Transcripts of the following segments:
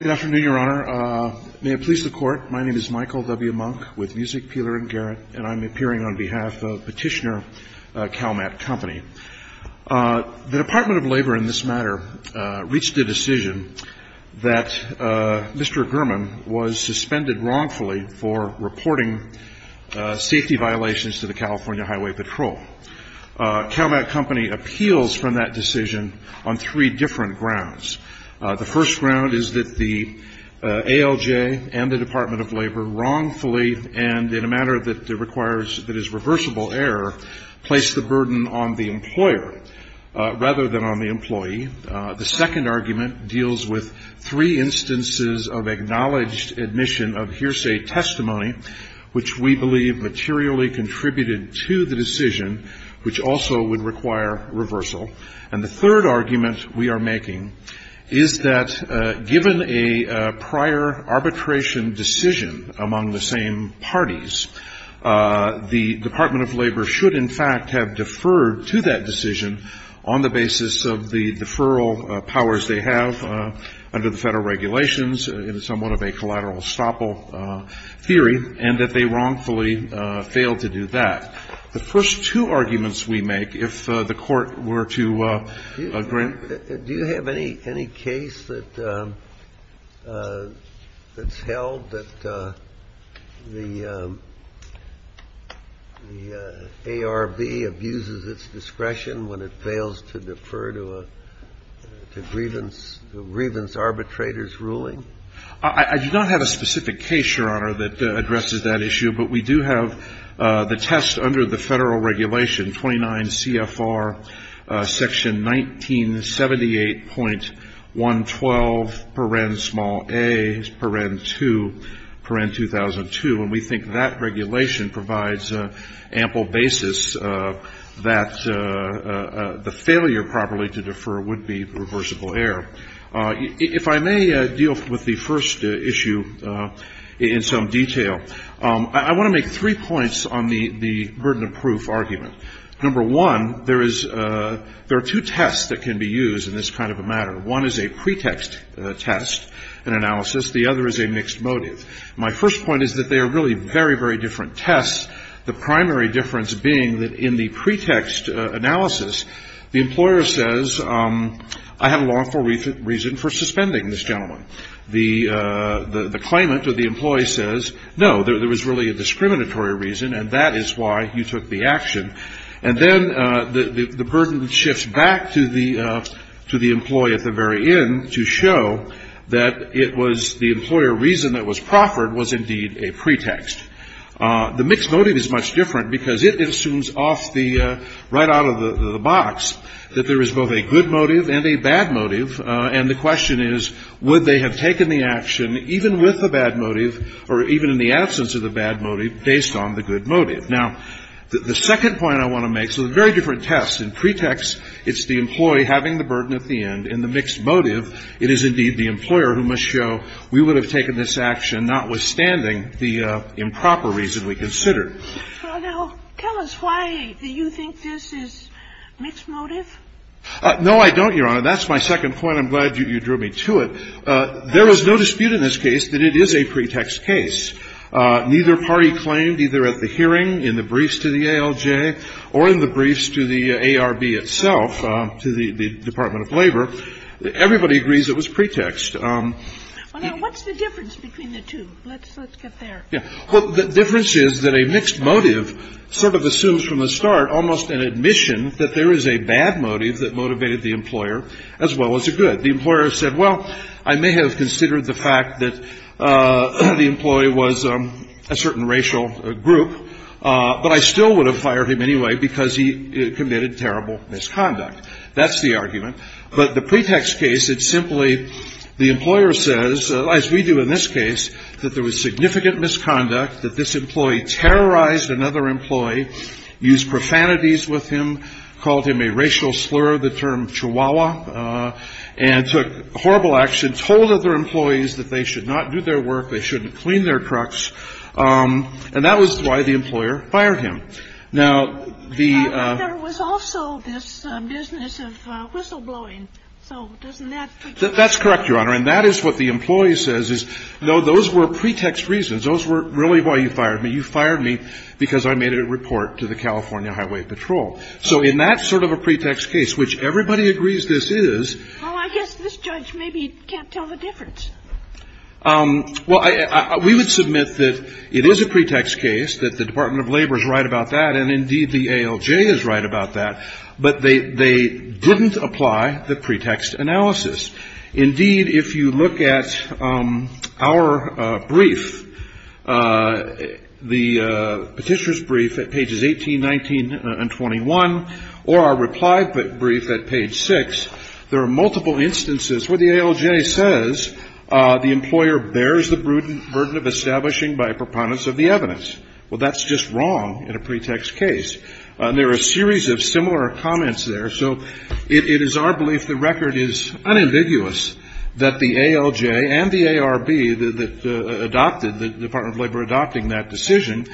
Good afternoon, Your Honor. May it please the Court, my name is Michael W. Monk, with Music, Peeler & Garrett, and I'm appearing on behalf of petitioner Calmat Company. The Dept. of Labor in this matter reached a decision that Mr. Gurman was suspended wrongfully for reporting safety violations to the California Highway Patrol. Calmat Company appeals from that decision on three different grounds. The first ground is that the ALJ and the Dept. of Labor wrongfully, and in a manner that requires, that is reversible error, placed the burden on the employer rather than on the employee. The second argument deals with three instances of acknowledged admission of hearsay testimony, which we believe materially contributed to the decision, which also would require reversal. And the third argument we are making is that given a prior arbitration decision among the same parties, the Dept. of Labor should in fact have deferred to that decision on the basis of the deferral powers they have under the federal regulations in somewhat of a collateral estoppel theory, and that they wrongfully failed to do that. The first two arguments we make, if the Court were to agree to do that. Do you have any case that's held that the ARB abuses its discretion when it fails to defer to a grievance arbitrator's ruling? I do not have a specific case, Your Honor, that addresses that issue, but we do have the test under the federal regulation, 29 CFR section 1978.112, paren small a, paren 2, paren 2002, and we think that regulation provides ample basis that the failure properly to defer would be reversible error. If I may deal with the first issue in some detail, I want to make three points on the burden of proof argument. Number one, there are two tests that can be used in this kind of a matter. One is a pretext test, an analysis. The other is a mixed motive. My first point is that they are really very, very different tests, the primary difference being that in the pretext analysis, the employer says, I have a lawful reason for suspending this gentleman. The claimant or the employee says, no, there was really a discriminatory reason and that is why you took the action. And then the burden shifts back to the employee at the very end to show that it was the employer reason that was proffered was indeed a pretext. The mixed motive is much different because it assumes off the right out of the box that there is both a good motive and a bad motive and the question is, would they have taken the action even with the bad motive or even in the absence of the bad motive based on the good motive. Now, the second point I want to make, so a very different test. In pretext, it's the employee having the burden at the end. In the mixed motive, it is indeed the employer who must show we would have taken this action notwithstanding the improper reason we considered. Now, tell us why you think this is mixed motive? No, I don't, Your Honor. That's my second point. I'm glad you drew me to it. There is no dispute in this case that it is a pretext case. Neither party claimed either at the hearing, in the briefs to the ALJ, or in the briefs to the ARB itself, to the Department of Labor. Everybody agrees it was pretext. Well, now, what's the difference between the two? Let's get there. Yeah. Well, the difference is that a mixed motive sort of assumes from the start almost an admission that there is a bad motive that motivated the employer as well as a good. The employer said, well, I may have considered the fact that the employee was a certain racial group, but I still would have fired him anyway because he committed terrible misconduct. That's the argument. But the pretext case, it's simply the employer says, as we do in this case, that there was significant misconduct, that this employee terrorized another employee, used profanities with him, called him a racial slur, the term chihuahua, and took horrible action, told other employees that they should not do their work, they shouldn't clean their trucks. And that was why the employer fired him. Now, the — But there was also this business of whistleblowing. So doesn't that — That's correct, Your Honor. And that is what the employee says is, no, those were pretext reasons. Those were really why you fired me. You fired me because I made a report to the California Highway Patrol. So in that sort of a pretext case, which everybody agrees this is — Well, I guess this judge maybe can't tell the difference. Well, we would submit that it is a pretext case, that the Department of Labor is right about that, and indeed the ALJ is right about that, but they didn't apply the pretext analysis. Indeed, if you look at our brief, the Petitioner's brief at pages 18, 19 and 21, or our reply brief at page 6, there are multiple instances where the ALJ says the employer bears the burden of establishing by a preponderance of the evidence. Well, that's just wrong in a pretext case. And there are a series of similar comments there. So it is our belief the record is unambiguous that the ALJ and the ARB that adopted — the Department of Labor adopting that decision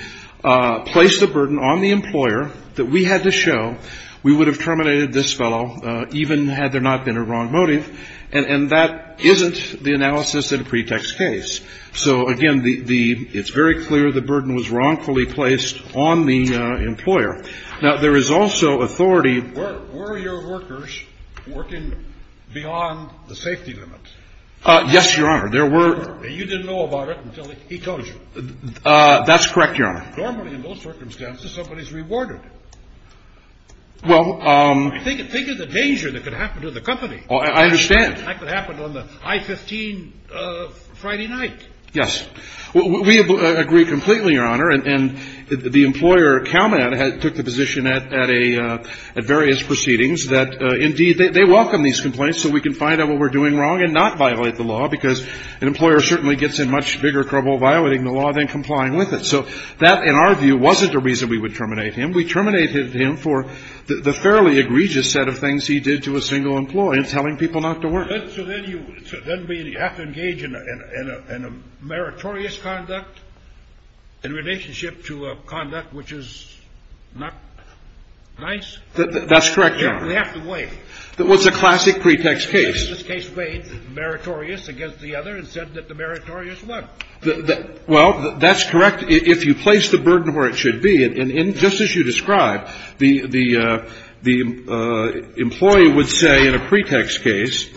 placed the burden on the employer, that we had to show we would have terminated this fellow even had there not been a wrong motive. And that isn't the analysis in a pretext case. So, again, the — it's very clear the burden was wrongfully placed on the employer. Now, there is also authority — Were your workers working beyond the safety limit? Yes, Your Honor. There were — And you didn't know about it until he told you? That's correct, Your Honor. Normally, in those circumstances, somebody is rewarded. Well — Think of the danger that could happen to the company. I understand. That could happen on the I-15 Friday night. Yes. We agree completely, Your Honor. And the employer, CalMED, took the position at various proceedings that, indeed, they welcome these complaints so we can find out what we're doing wrong and not violate the law, because an employer certainly gets in much bigger trouble violating the law than complying with it. So that, in our view, wasn't the reason we would terminate him. We terminated him for the fairly egregious set of things he did to a single employee and telling people not to work. So then you have to engage in a meritorious conduct in relationship to a conduct which is not nice? That's correct, Your Honor. We have to weigh. That was a classic pretext case. This case weighed meritorious against the other and said that the meritorious won. Well, that's correct if you place the burden where it should be. And just as you described, the employee would say in a pretext case,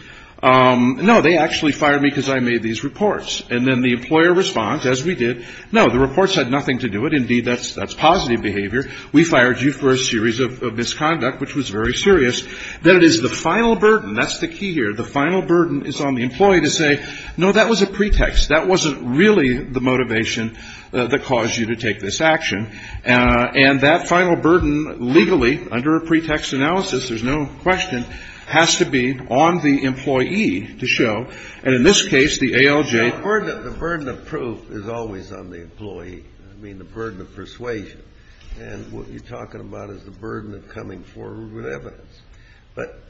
no, they actually fired me because I made these reports. And then the employer responds, as we did, no, the reports had nothing to do with it. Indeed, that's positive behavior. We fired you for a series of misconduct, which was very serious. Then it is the final burden. That's the key here. The final burden is on the employee to say, no, that was a pretext. That wasn't really the motivation that caused you to take this action. And that final burden legally, under a pretext analysis, there's no question, has to be on the employee to show. And in this case, the ALJ. The burden of proof is always on the employee. I mean, the burden of persuasion and what you're talking about is the burden of coming forward with evidence. But,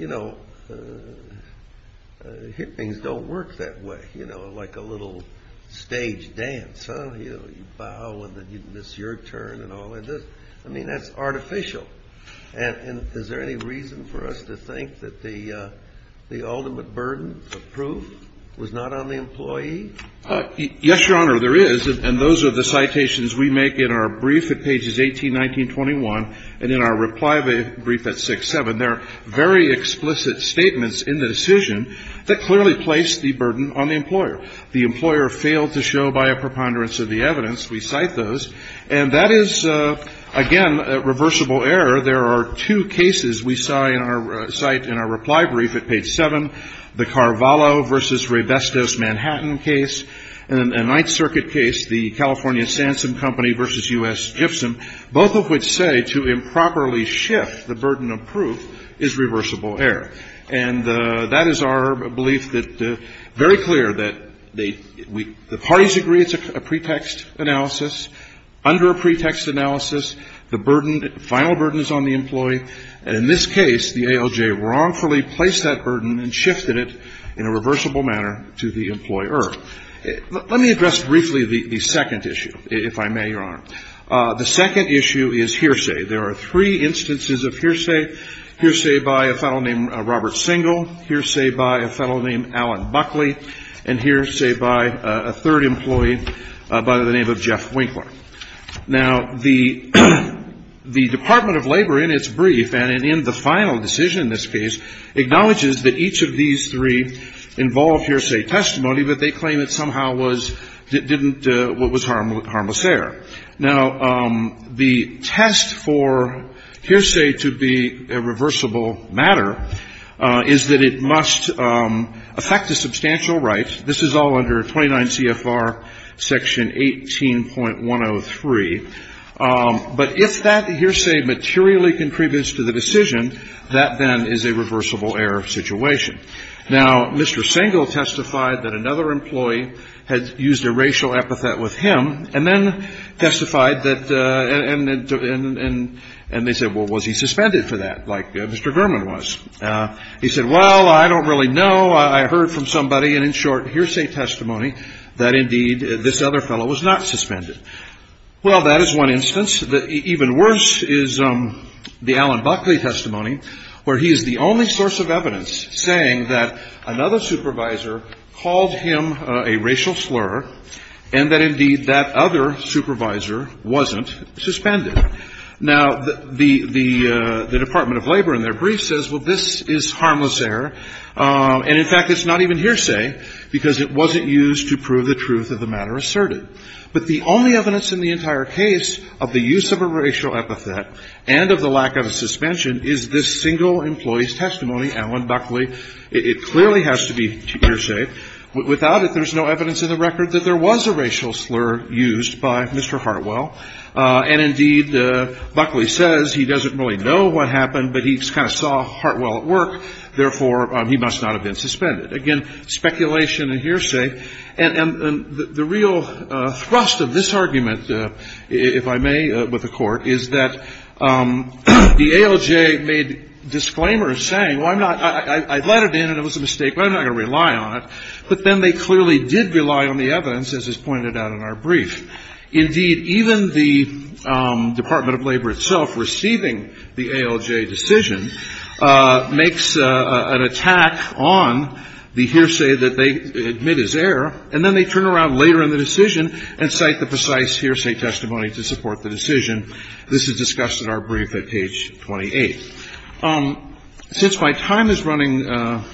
you know, hit things don't work that way, you know, like a little stage dance. You know, you bow and then you miss your turn and all of this. I mean, that's artificial. And is there any reason for us to think that the the ultimate burden of proof was not on the employee? Yes, Your Honor, there is. And those are the citations we make in our brief at pages 18, 19, 21. And in our reply brief at 6, 7, there are very explicit statements in the decision that clearly placed the burden on the employer. The employer failed to show by a preponderance of the evidence. We cite those. And that is, again, reversible error. There are two cases we cite in our reply brief at page 7. The Carvalho versus Raybestos Manhattan case and a Ninth Circuit case, the California Sansum Company versus U.S. Giftson, both of which say to improperly shift the burden of proof is reversible error. And that is our belief that very clear that the parties agree it's a pretext analysis. Under a pretext analysis, the burden, the final burden is on the employee. And in this case, the ALJ wrongfully placed that burden and shifted it in a reversible manner to the employer. Let me address briefly the second issue, if I may, Your Honor. The second issue is hearsay. There are three instances of hearsay, hearsay by a fellow named Robert Singel, hearsay by a fellow named Alan Buckley, and hearsay by a third employee by the name of Jeff Winkler. Now, the Department of Labor, in its brief and in the final decision in this case, acknowledges that each of these three involved hearsay testimony, but they claim it somehow was, didn't, was harmless error. Now, the test for hearsay to be a reversible matter is that it must affect a substantial right. This is all under 29 CFR section 18.103. But if that hearsay materially contributes to the decision, that then is a reversible error situation. Now, Mr. Singel testified that another employee had used a racial epithet with him. And then testified that, and they said, well, was he suspended for that, like Mr. Gurman was? He said, well, I don't really know. I heard from somebody. And in short, hearsay testimony that, indeed, this other fellow was not suspended. Well, that is one instance. Even worse is the Alan Buckley testimony, where he is the only source of evidence saying that another supervisor called him a racial slur, and that, indeed, that other supervisor wasn't suspended. Now, the Department of Labor, in their brief, says, well, this is harmless error. And, in fact, it's not even hearsay because it wasn't used to prove the truth of the matter asserted. But the only evidence in the entire case of the use of a racial epithet and of the lack of a suspension is this single employee's testimony, Alan Buckley. It clearly has to be hearsay. Without it, there's no evidence in the record that there was a racial slur used by Mr. Hartwell. And, indeed, Buckley says he doesn't really know what happened, but he kind of saw Hartwell at work. Therefore, he must not have been suspended. Again, speculation and hearsay. And the real thrust of this argument, if I may, with the Court, is that the ALJ made disclaimers saying, well, I'm not – I let it in and it was a mistake, but I'm not going to rely on it. But then they clearly did rely on the evidence, as is pointed out in our brief. Indeed, even the Department of Labor itself, receiving the ALJ decision, makes an attack on the hearsay that they admit is error, and then they turn around later in the decision and cite the precise hearsay testimony to support the decision. This is discussed in our brief at page 28. Since my time is running out,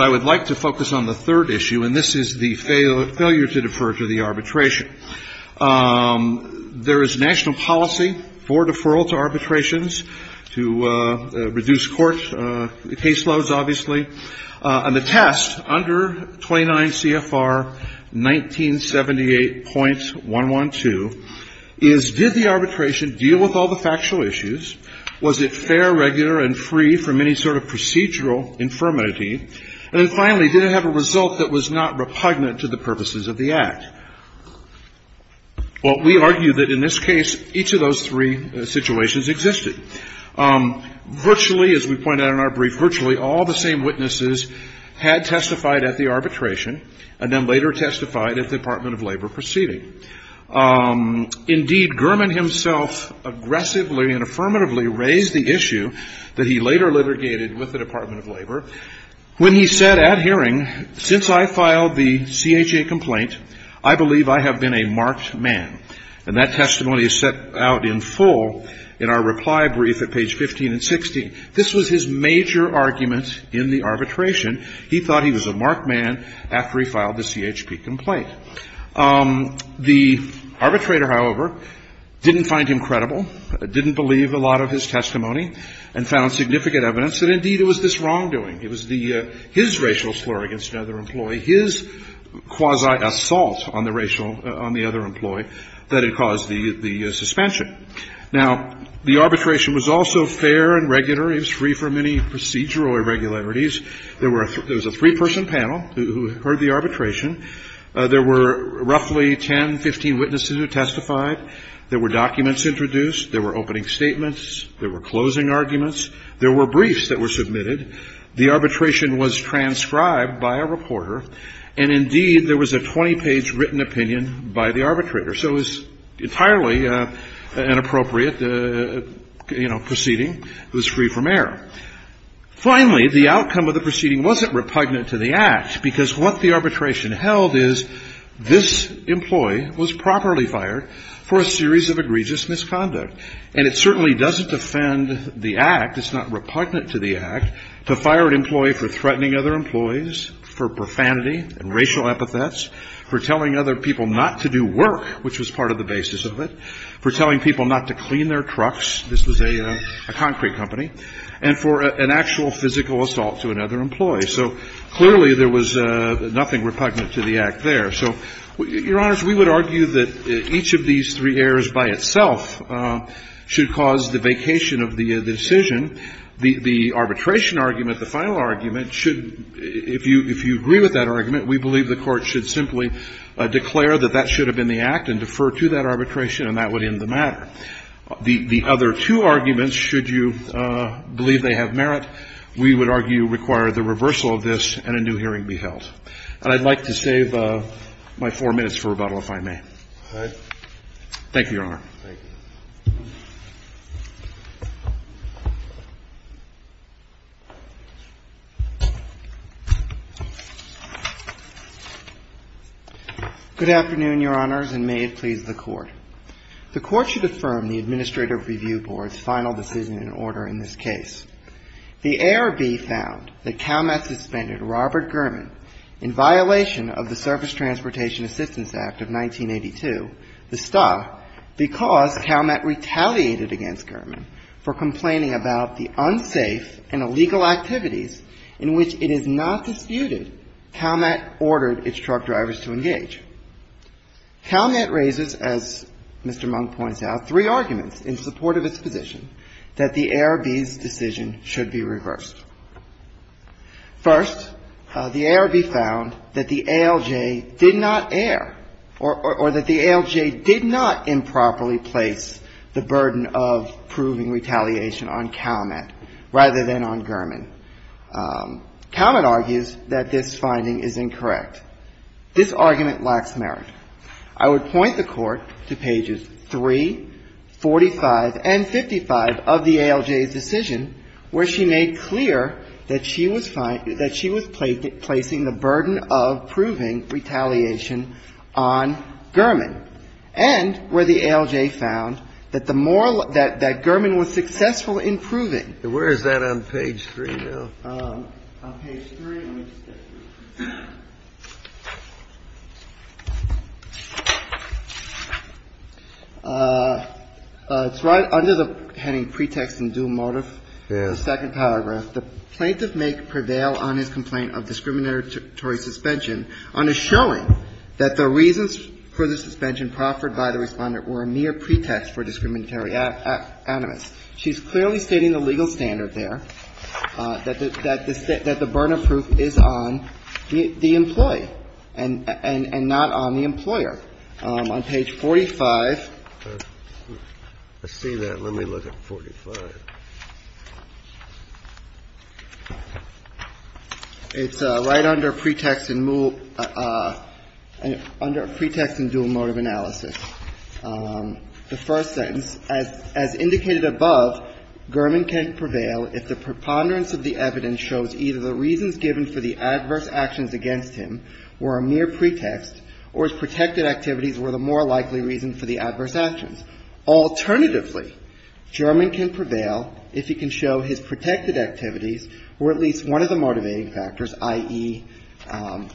I would like to focus on the third issue, and this is the failure to defer to the arbitration. There is national policy for deferral to arbitrations to reduce court caseloads, obviously. And the test under 29 CFR 1978.112 is, did the arbitration deal with all the factual issues? Was it fair, regular, and free from any sort of procedural infirmity? And then finally, did it have a result that was not repugnant to the purposes of the Act? Well, we argue that in this case, each of those three situations existed. Virtually, as we pointed out in our brief, virtually all the same witnesses had testified at the arbitration, and then later testified at the Department of Labor proceeding. Indeed, Gurman himself aggressively and affirmatively raised the issue that he later litigated with the Department of Labor when he said at hearing, Since I filed the CHA complaint, I believe I have been a marked man. And that testimony is set out in full in our reply brief at page 15 and 16. This was his major argument in the arbitration. He thought he was a marked man after he filed the CHP complaint. The arbitrator, however, didn't find him credible, didn't believe a lot of his testimony, and found significant evidence that, indeed, it was this wrongdoing. It was his racial slur against another employee, his quasi-assault on the racial – on the other employee that had caused the suspension. Now, the arbitration was also fair and regular. It was free from any procedural irregularities. There was a three-person panel who heard the arbitration. There were roughly 10, 15 witnesses who testified. There were documents introduced. There were opening statements. There were closing arguments. There were briefs that were submitted. The arbitration was transcribed by a reporter. And, indeed, there was a 20-page written opinion by the arbitrator. So it was entirely an appropriate, you know, proceeding. It was free from error. Finally, the outcome of the proceeding wasn't repugnant to the Act, because what the arbitration held is this employee was properly fired for a series of egregious misconduct. And it certainly doesn't defend the Act. It's not repugnant to the Act. To fire an employee for threatening other employees, for profanity and racial epithets, for telling other people not to do work, which was part of the basis of it, for telling people not to clean their trucks – this was a concrete company – and for an actual physical assault to another employee. So clearly, there was nothing repugnant to the Act there. So, Your Honors, we would argue that each of these three errors by itself should cause the vacation of the decision. The arbitration argument, the final argument, should – if you agree with that argument, we believe the Court should simply declare that that should have been the Act and defer to that arbitration, and that would end the matter. The other two arguments, should you believe they have merit, we would argue require the reversal of this and a new hearing be held. And I'd like to save my four minutes for rebuttal, if I may. Thank you, Your Honor. Thank you. Good afternoon, Your Honors, and may it please the Court. The Court should affirm the Administrative Review Board's final decision in order in this case. The ARB found that CalMet suspended Robert German in violation of the Surface Because CalMet retaliated against German for complaining about the unsafe and illegal activities in which it is not disputed, CalMet ordered its truck drivers to engage. CalMet raises, as Mr. Monk points out, three arguments in support of its position that the ARB's decision should be reversed. First, the ARB found that the ALJ did not err, or that the ALJ did not improperly place the burden of proving retaliation on CalMet rather than on German. CalMet argues that this finding is incorrect. This argument lacks merit. I would point the Court to pages 3, 45, and 55 of the ALJ's decision where she made clear that she was placing the burden of proving retaliation on German and where the ALJ found that the moral ‑‑ that German was successful in proving ‑‑ Where is that on page 3 now? On page 3. Let me just get through it. It's right under the heading Pretext and Due Motive, the second paragraph. The plaintiff may prevail on his complaint of discriminatory suspension on a showing that the reasons for the suspension proffered by the Respondent were a mere pretext for discriminatory animus. She's clearly stating the legal standard there, that the burden of proof is on the employee and not on the employer. On page 45. I see that. Let me look at 45. It's right under Pretext and ‑‑ under Pretext and Due Motive Analysis. The first sentence, as indicated above, German can prevail if the preponderance of the evidence shows either the reasons given for the adverse actions against him were a mere pretext or if protected activities were the more likely reason for the adverse actions. Alternatively, German can prevail if he can show his protected activities were at least one of the motivating factors, i.e.,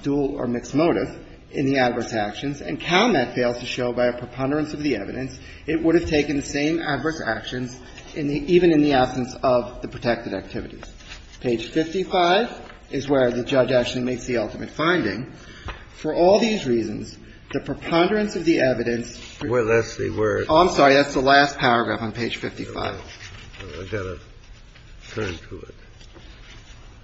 dual or mixed motive, in the adverse actions, and CalMet fails to show by a preponderance of the evidence it would have taken the same adverse actions even in the absence of the protected activities. Page 55 is where the judge actually makes the ultimate finding. For all these reasons, the preponderance of the evidence ‑‑ Oh, I'm sorry. That's the last paragraph on page 55.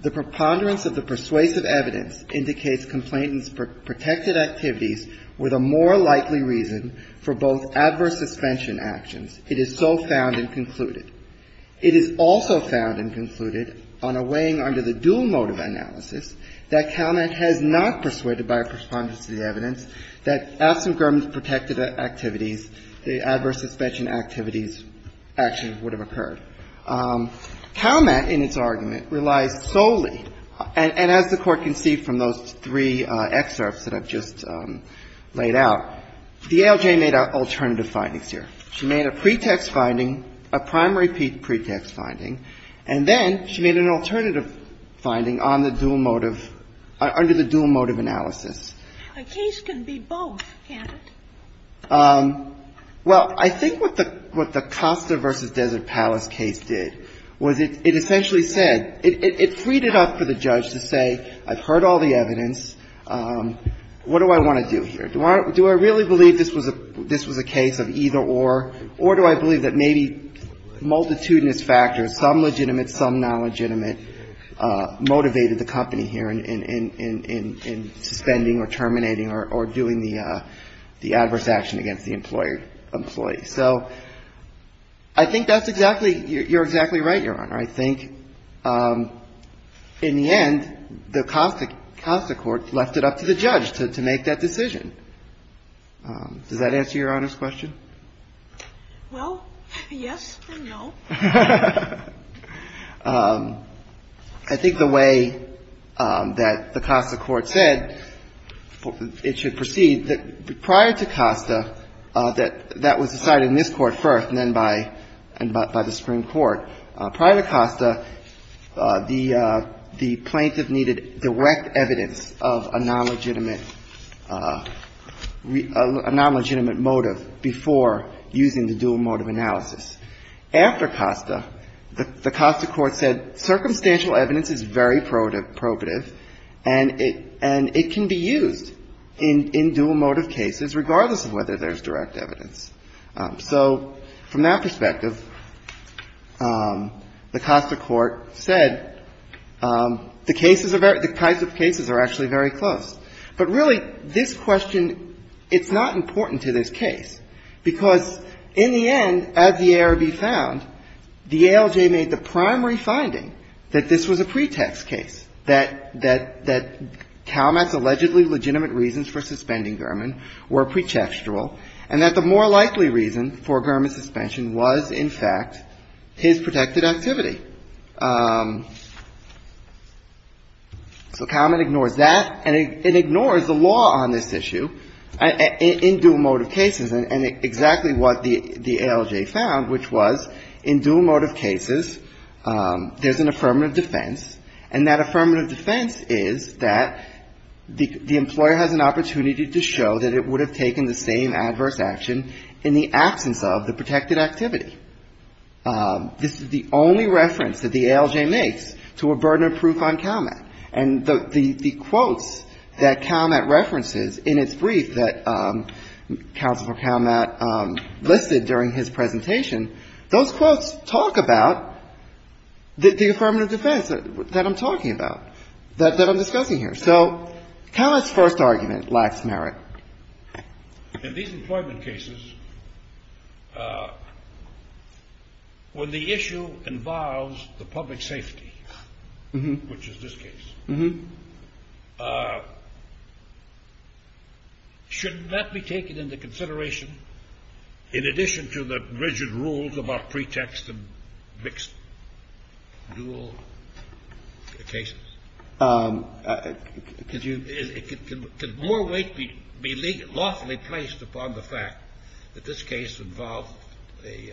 The preponderance of the persuasive evidence indicates complainants' protected activities were the more likely reason for both adverse suspension actions. It is so found and concluded. It is also found and concluded on a weighing under the dual motive analysis that CalMet has not persuaded by a preponderance of the evidence that absent German's protected activities, the adverse suspension activities, actions would have occurred. CalMet in its argument relies solely, and as the Court can see from those three excerpts that I've just laid out, DLJ made alternative findings here. She made a pretext finding, a primary pretext finding, and then she made an alternative finding on the dual motive, under the dual motive analysis. A case can be both, can't it? Well, I think what the Costa v. Desert Palace case did was it essentially said ‑‑ it freed it up for the judge to say, I've heard all the evidence. What do I want to do here? Do I really believe this was a case of either or, or do I believe that maybe multitudinous factors, some legitimate, some nonlegitimate, motivated the company here in suspending or terminating or doing the adverse action against the employee? So I think that's exactly ‑‑ you're exactly right, Your Honor. I think in the end, the Costa court left it up to the judge to make that decision. Does that answer Your Honor's question? Well, yes and no. I think the way that the Costa court said it should proceed, prior to Costa, that that was decided in this court first and then by the Supreme Court. Prior to Costa, the plaintiff needed direct evidence of a nonlegitimate motive before using the dual motive analysis. Prior to Costa, the Costa court said circumstantial evidence is very probative and it can be used in dual motive cases regardless of whether there's direct evidence. So from that perspective, the Costa court said the cases, the types of cases are actually very close. But really, this question, it's not important to this case because in the end, as the ARB found, the ALJ made the primary finding that this was a pretext case, that Calmat's allegedly legitimate reasons for suspending Gurman were pretextual and that the more likely reason for Gurman's suspension was, in fact, his protected activity. So Calmat ignores that and ignores the law on this issue in dual motive cases and exactly what the ALJ found, which was in dual motive cases, there's an affirmative defense, and that affirmative defense is that the employer has an opportunity to show that it would have taken the same adverse action in the absence of the protected activity. This is the only reference that the ALJ makes to a burden of proof on Calmat. And the quotes that Calmat references in its brief that Counselor Calmat listed during his presentation, those quotes talk about the affirmative defense that I'm talking about, that I'm discussing here. So Calmat's first argument lacks merit. In these employment cases, when the issue involves the public safety, which is this case, shouldn't that be taken into consideration in addition to the rigid rules about pretext and mixed dual cases? Could more weight be lawfully placed upon the fact that this case involved a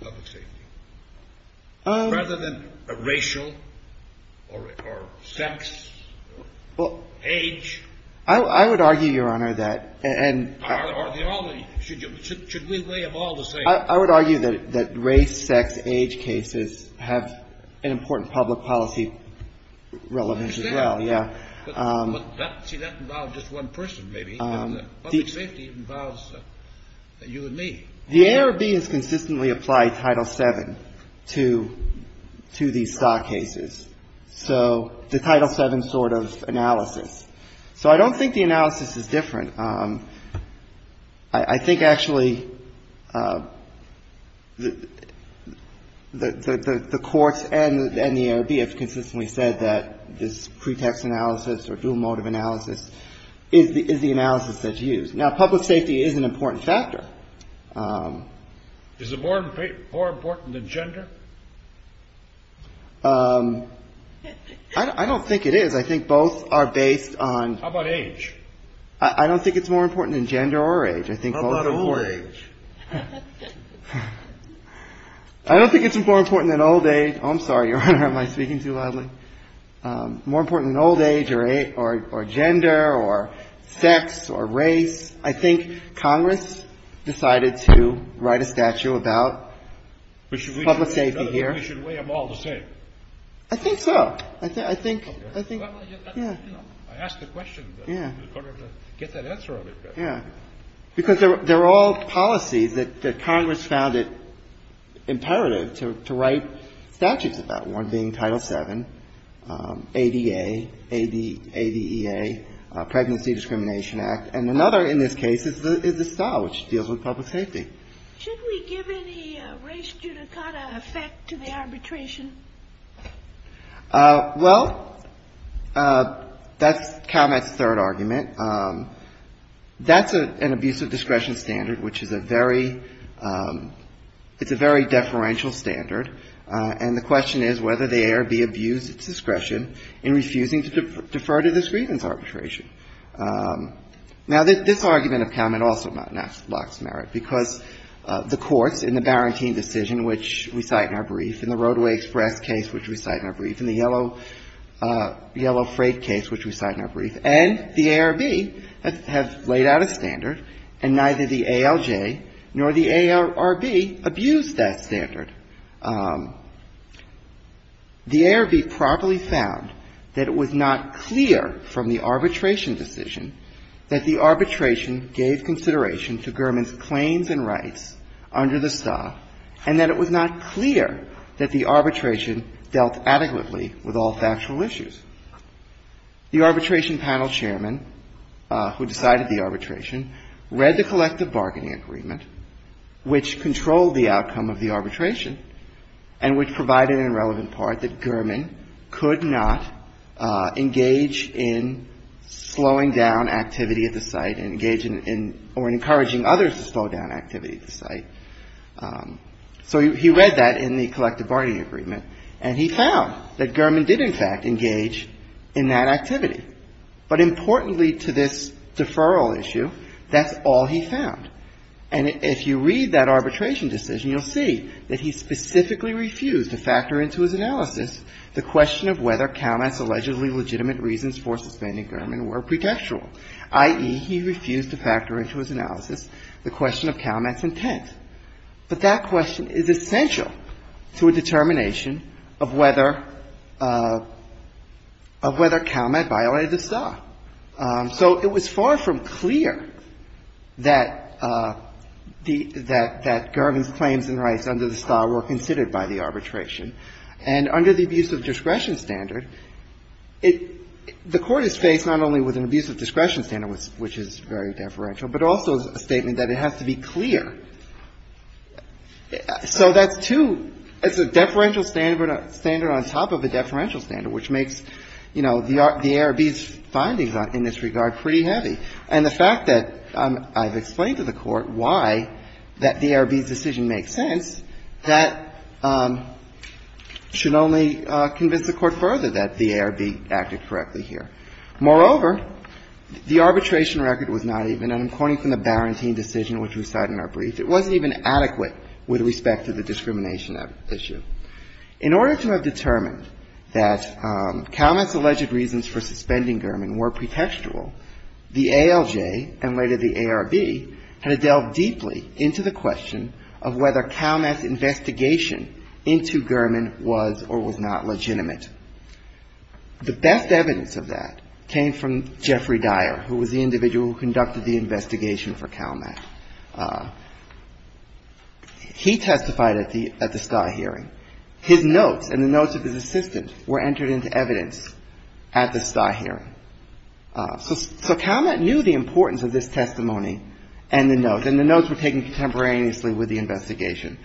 public safety, rather than a racial or sex, age? I would argue, Your Honor, that. Or should we weigh them all the same? I would argue that race, sex, age cases have an important public policy relationship with the public safety. And I think that's a good example of this as well. I understand. Yeah. But, see, that involves just one person, maybe. The public safety involves you and me. The ARB has consistently applied Title VII to these stock cases. So the Title VII sort of analysis. So I don't think the analysis is different. I think, actually, the courts and the ARB have consistently said that this pretext analysis or dual motive analysis is the analysis that's used. Now, public safety is an important factor. Is it more important than gender? I don't think it is. I think both are based on. How about age? I don't think it's more important than gender or age. I think both are. How about old age? I don't think it's more important than old age. Oh, I'm sorry, Your Honor. Am I speaking too loudly? More important than old age or gender or sex or race. I think Congress decided to write a statute about public safety here. But should we weigh them all the same? I think so. I think, I think, yeah. I asked the question. You've got to get that answer on it. Yeah. Because they're all policies that Congress found it imperative to write statutes about, one being Title VII, ADA, ADEA, Pregnancy Discrimination Act. And another, in this case, is the style, which deals with public safety. Should we give any race judicata effect to the arbitration? Well, that's CalMet's third argument. That's an abuse of discretion standard, which is a very ‑‑ it's a very deferential standard. And the question is whether they err, be abused at discretion in refusing to defer to this grievance arbitration. Now, this argument of CalMet also blocks merit, because the courts in the Barantine Decision, which we cite in our brief, in the Roadway Express case, which we cite in our brief, in the Yellow Freight case, which we cite in our brief, and the ARB have laid out a standard, and neither the ALJ nor the ARB abuse that standard. The ARB properly found that it was not clear from the arbitration decision that the arbitration dealt adequately with all factual issues. The arbitration panel chairman, who decided the arbitration, read the collective bargaining agreement, which controlled the outcome of the arbitration, and which provided an irrelevant part that Gurman could not engage in slowing down activity at the site or encouraging others to slow down activity at the site. So he read that in the collective bargaining agreement, and he found that Gurman did, in fact, engage in that activity. But importantly to this deferral issue, that's all he found. And if you read that arbitration decision, you'll see that he specifically refused to factor into his analysis the question of whether CalMet's allegedly legitimate reasons for suspending Gurman were pretextual, i.e., he refused to factor into his analysis the question of CalMet's intent. But that question is essential to a determination of whether CalMet violated the star. So it was far from clear that the — that Gurman's claims and rights under the star were considered by the arbitration. And under the abuse of discretion standard, it — the Court is faced not only with an abuse of discretion standard, which is very deferential, but also a statement that it has to be clear. So that's too — it's a deferential standard on top of a deferential standard, which makes, you know, the ARB's findings in this regard pretty heavy. And the fact that I've explained to the Court why that the ARB's decision makes sense, that should only convince the Court further that the ARB acted correctly here. Moreover, the arbitration record was not even, and I'm quoting from the Barantine decision, which we cite in our brief, it wasn't even adequate with respect to the discrimination issue. In order to have determined that CalMet's alleged reasons for suspending Gurman were pretextual, the ALJ and later the ARB had to delve deeply into the question of whether CalMet's investigation into Gurman was or was not legitimate. The best evidence of that came from Jeffrey Dyer, who was the individual who conducted the investigation for CalMet. He testified at the — at the Steyr hearing. His notes and the notes of his assistant were entered into evidence at the Steyr hearing. So CalMet knew the importance of this testimony and the notes, and the notes were taken contemporaneously with the investigation.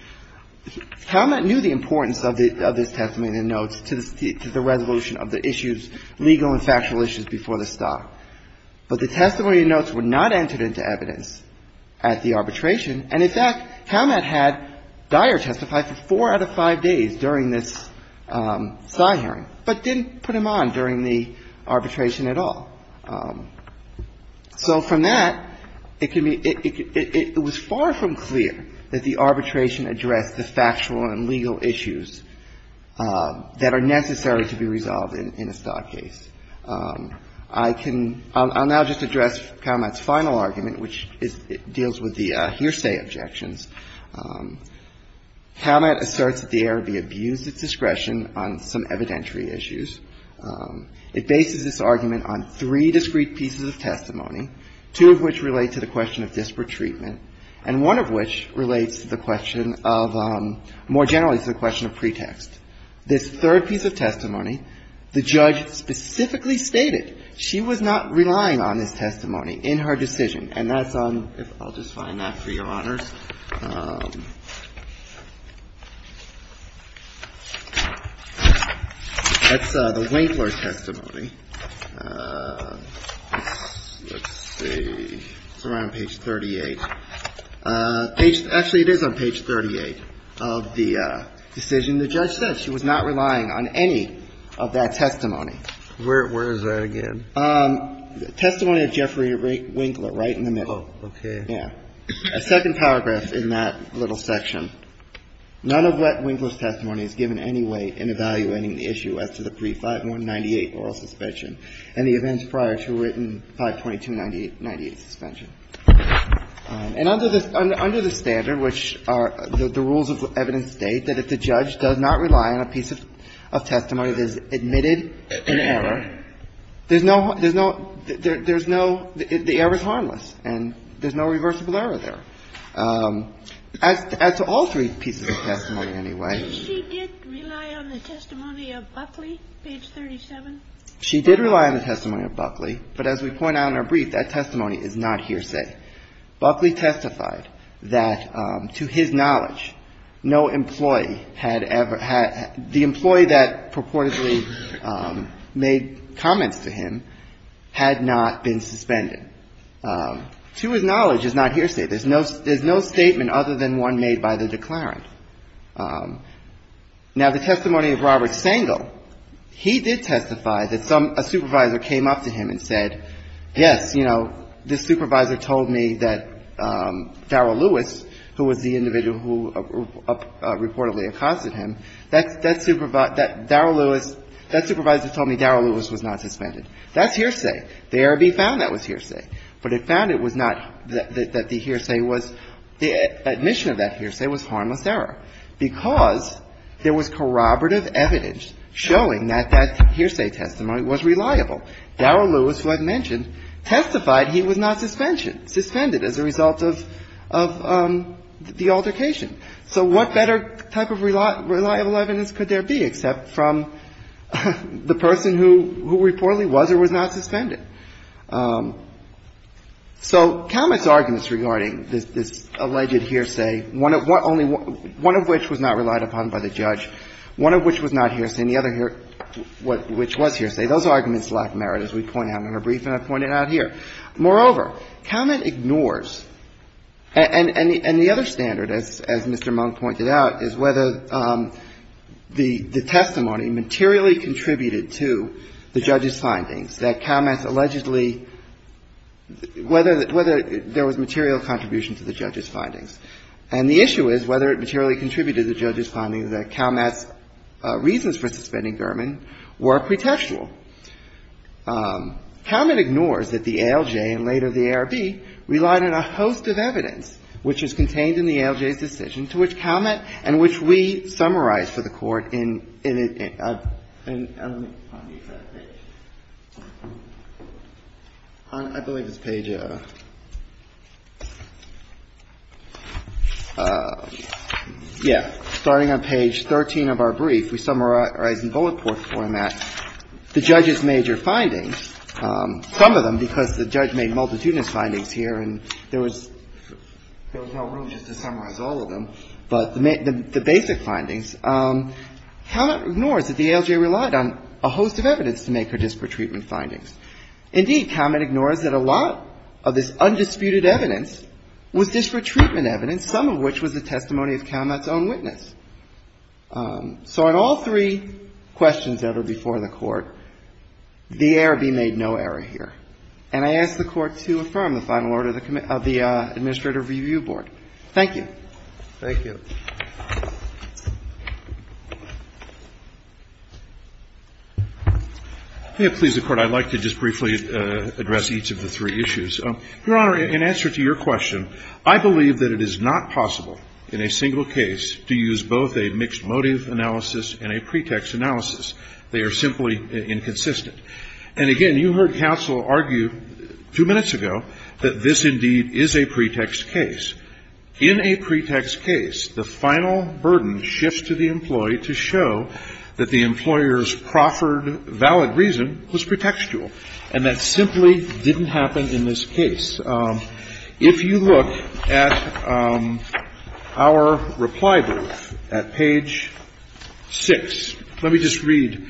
CalMet knew the importance of this testimony and the notes to the resolution of the issues, legal and factual issues, before the stock. But the testimony and notes were not entered into evidence at the arbitration. And, in fact, CalMet had Dyer testify for four out of five days during this Steyr hearing, but didn't put him on during the arbitration at all. So from that, it can be — it was far from clear that the arbitration addressed the factual and legal issues that are necessary to be resolved in a stock case. I can — I'll now just address CalMet's final argument, which is — deals with the hearsay objections. CalMet asserts that the ARB abused its discretion on some evidentiary issues. It bases this argument on three discrete pieces of testimony, two of which relate to the question of disparate treatment and one of which relates to the question of — more generally to the question of pretext. This third piece of testimony, the judge specifically stated she was not relying on this testimony in her decision. And that's on — I'll just find that for Your Honors. That's the Winkler testimony. Let's see. It's around page 38. Actually, it is on page 38 of the decision. The judge said she was not relying on any of that testimony. Where is that again? Testimony of Jeffrey Winkler, right in the middle. Oh, okay. Yeah. A second paragraph in that little section. None of what Winkler's testimony is given any weight in evaluating the issue as to the pre-5198 oral suspension and the events prior to written 52298 suspension. And under the — under the standard, which are — the rules of evidence state that if the judge does not rely on a piece of testimony that is admitted in error, there's no — there's no — there's no — the error is harmless and there's no reversible error there. As to all three pieces of testimony, anyway. She did rely on the testimony of Buckley, page 37? She did rely on the testimony of Buckley. But as we point out in our brief, that testimony is not hearsay. Buckley testified that, to his knowledge, no employee had ever — the employee that purportedly made comments to him had not been suspended. To his knowledge, it's not hearsay. There's no — there's no statement other than one made by the declarant. Now, the testimony of Robert Sangle, he did testify that some — a supervisor came up to him and said, yes, you know, this supervisor told me that Darryl Lewis, who was the individual who reportedly accosted him, that supervisor — that Darryl Lewis — that supervisor told me Darryl Lewis was not suspended. That's hearsay. The ARB found that was hearsay. But it found it was not — that the hearsay was — the admission of that hearsay was harmless error because there was corroborative evidence showing that that hearsay testimony was reliable. Darryl Lewis, who I've mentioned, testified he was not suspension — suspended as a result of — of the altercation. So what better type of reliable evidence could there be except from the person who — who reportedly was or was not suspended? So Calamit's arguments regarding this — this alleged hearsay, one of — only one of which was not relied upon by the judge, one of which was not hearsay, and the other which was hearsay, those arguments lack merit, as we point out in our briefing I've pointed out here. Moreover, Calamit ignores — and the other standard, as Mr. Monk pointed out, is whether the testimony materially contributed to the judge's findings, that Calamit's allegedly — whether there was material contribution to the judge's findings. And the issue is whether it materially contributed to the judge's findings that Calamit's reasons for suspending Gurman were pretextual. Calamit ignores that the ALJ and later the ARB relied on a host of evidence which is contained in the ALJ's decision to which Calamit and which we summarized for the Court in — in a — in — let me find the exact page. I believe it's page — yeah. Starting on page 13 of our brief, we summarize in bullet-format the judge's major findings, some of them because the judge made multitudinous findings here and there was — there was no room just to summarize all of them, but the basic findings. Calamit ignores that the ALJ relied on a host of evidence to make her disparate treatment findings. Indeed, Calamit ignores that a lot of this undisputed evidence was disparate treatment evidence, some of which was the testimony of Calamit's own witness. So in all three questions that were before the Court, the ARB made no error here. And I ask the Court to affirm the final order of the Administrative Review Board. Thank you. Thank you. May it please the Court. I'd like to just briefly address each of the three issues. Your Honor, in answer to your question, I believe that it is not possible in a single case to use both a mixed motive analysis and a pretext analysis. They are simply inconsistent. And again, you heard counsel argue two minutes ago that this indeed is a pretext case. In a pretext case, the final burden shifts to the employee to show that the employer's proffered valid reason was pretextual. And that simply didn't happen in this case. If you look at our reply brief at page 6, let me just read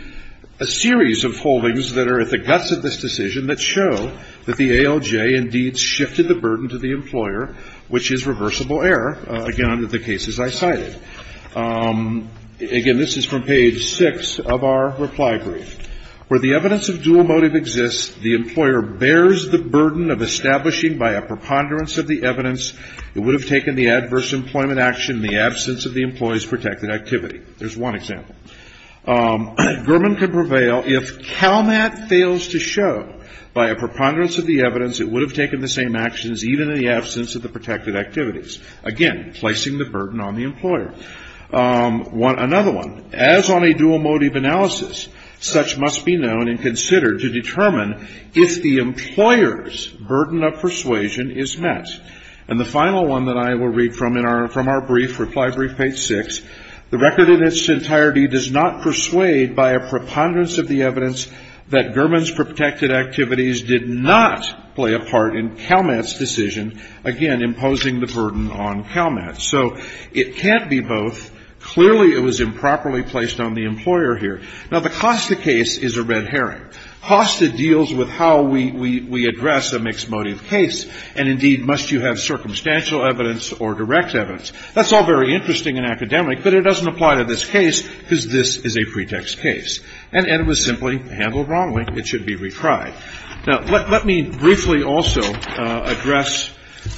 a series of holdings that are at the guts of this decision that show that the ALJ indeed shifted the burden to the employer, which is reversible error, again, under the cases I cited. Again, this is from page 6 of our reply brief. Where the evidence of dual motive exists, the employer bears the burden of establishing by a preponderance of the evidence it would have taken the adverse employment action in the absence of the employee's protected activity. There's one example. Gurman could prevail if CalMAT fails to show by a preponderance of the evidence it would have taken the same actions even in the absence of the protected activities. Again, placing the burden on the employer. Another one. As on a dual motive analysis, such must be known and considered to determine if the employer's burden of persuasion is met. And the final one that I will read from in our brief, reply brief page 6. The record in its entirety does not persuade by a preponderance of the evidence that Gurman's protected activities did not play a part in CalMAT's decision, again, imposing the burden on CalMAT. So it can't be both. Clearly it was improperly placed on the employer here. Now, the Costa case is a red herring. Costa deals with how we address a mixed motive case, and indeed, must you have circumstantial evidence or direct evidence? That's all very interesting and academic, but it doesn't apply to this case because this is a pretext case. And it was simply handled wrongly. It should be retried. Now, let me briefly also address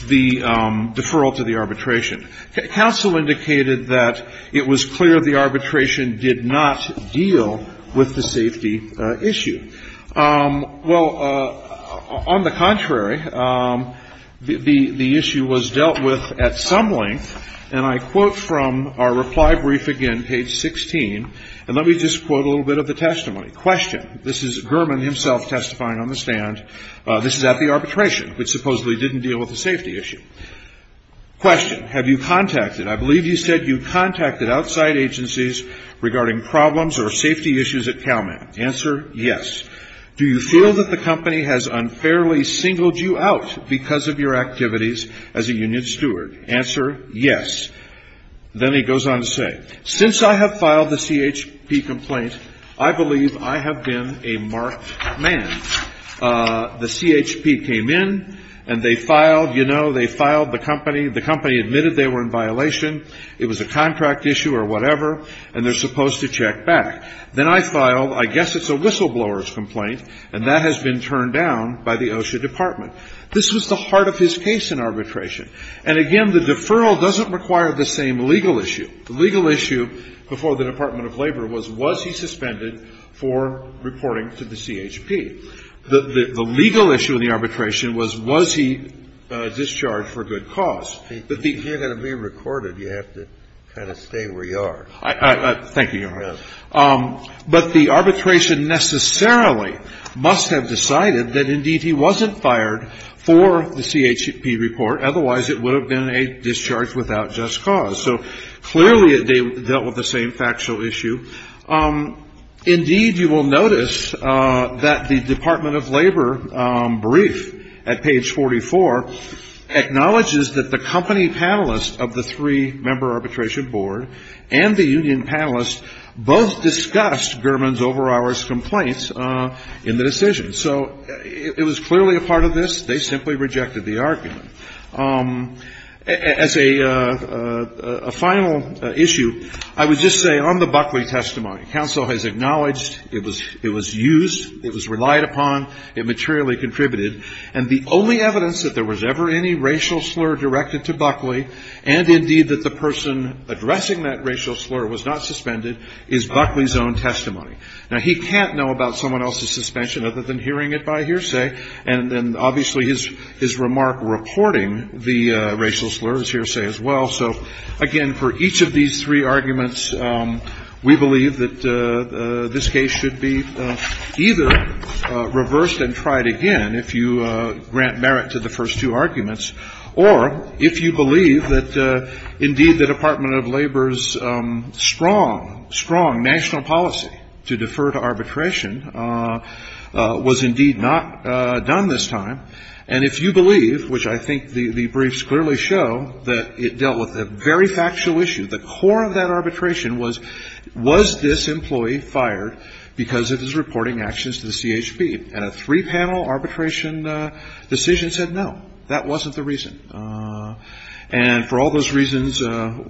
the deferral to the arbitration. Counsel indicated that it was clear the arbitration did not deal with the safety issue. Well, on the contrary, the issue was dealt with at some length, and I quote from our reply brief again, page 16, and let me just quote a little bit of the testimony. Question. This is Gurman himself testifying on the stand. This is at the arbitration, which supposedly didn't deal with the safety issue. Question. Have you contacted, I believe you said you contacted outside agencies regarding problems or safety issues at CalMAT. Answer. Yes. Do you feel that the company has unfairly singled you out because of your activities as a union steward? Answer. Yes. Then he goes on to say, since I have filed the CHP complaint, I believe I have been a marked man. The CHP came in, and they filed, you know, they filed the company. The company admitted they were in violation. It was a contract issue or whatever, and they're supposed to check back. Then I filed, I guess it's a whistleblower's complaint, and that has been turned down by the OSHA department. This was the heart of his case in arbitration. And again, the deferral doesn't require the same legal issue. The legal issue before the Department of Labor was, was he suspended for reporting to the CHP? The legal issue in the arbitration was, was he discharged for good cause? But the ---- You're going to be recorded. You have to kind of stay where you are. Thank you, Your Honor. But the arbitration necessarily must have decided that, indeed, he wasn't fired for the CHP report. Otherwise, it would have been a discharge without just cause. So clearly, they dealt with the same factual issue. Indeed, you will notice that the Department of Labor brief at page 44 acknowledges that the company panelists of the three-member arbitration board and the union panelists both discussed Gurman's over-hours complaints in the decision. So it was clearly a part of this. They simply rejected the argument. As a final issue, I would just say on the Buckley testimony, counsel has acknowledged it was used, it was relied upon, it materially contributed. And the only evidence that there was ever any racial slur directed to Buckley, and, indeed, that the person addressing that racial slur was not suspended, is Buckley's own testimony. Now, he can't know about someone else's suspension other than hearing it by hearsay. And then, obviously, his remark reporting the racial slur is hearsay as well. So, again, for each of these three arguments, we believe that this case should be either reversed and tried again if you grant merit to the first two arguments, or if you believe that, indeed, the Department of Labor's strong, strong national policy to defer to arbitration was, indeed, not done this time. And if you believe, which I think the briefs clearly show, that it dealt with a very factual issue. The core of that arbitration was, was this employee fired because of his reporting actions to the CHP? And a three-panel arbitration decision said, no, that wasn't the reason. And for all those reasons,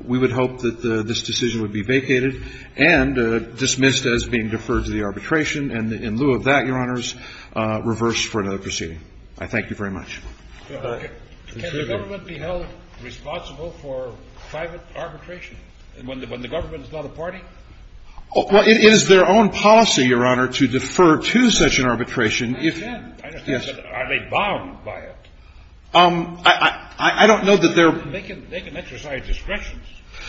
we would hope that this decision would be vacated and dismissed as being deferred to the arbitration. And in lieu of that, Your Honors, reverse for another proceeding. I thank you very much. Can the government be held responsible for private arbitration when the government is not a party? Well, it is their own policy, Your Honor, to defer to such an arbitration. I understand. I understand. But are they bound by it? I don't know that they're. They can exercise discretion.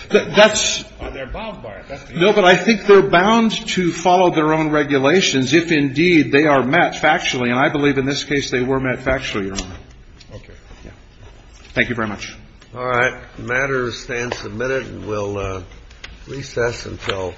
That's. They're bound by it. That's the issue. No, but I think they're bound to follow their own regulations if, indeed, they are met factually. And I believe in this case they were met factually, Your Honor. Okay. Thank you very much. All right. The matter stands submitted. And we'll recess until.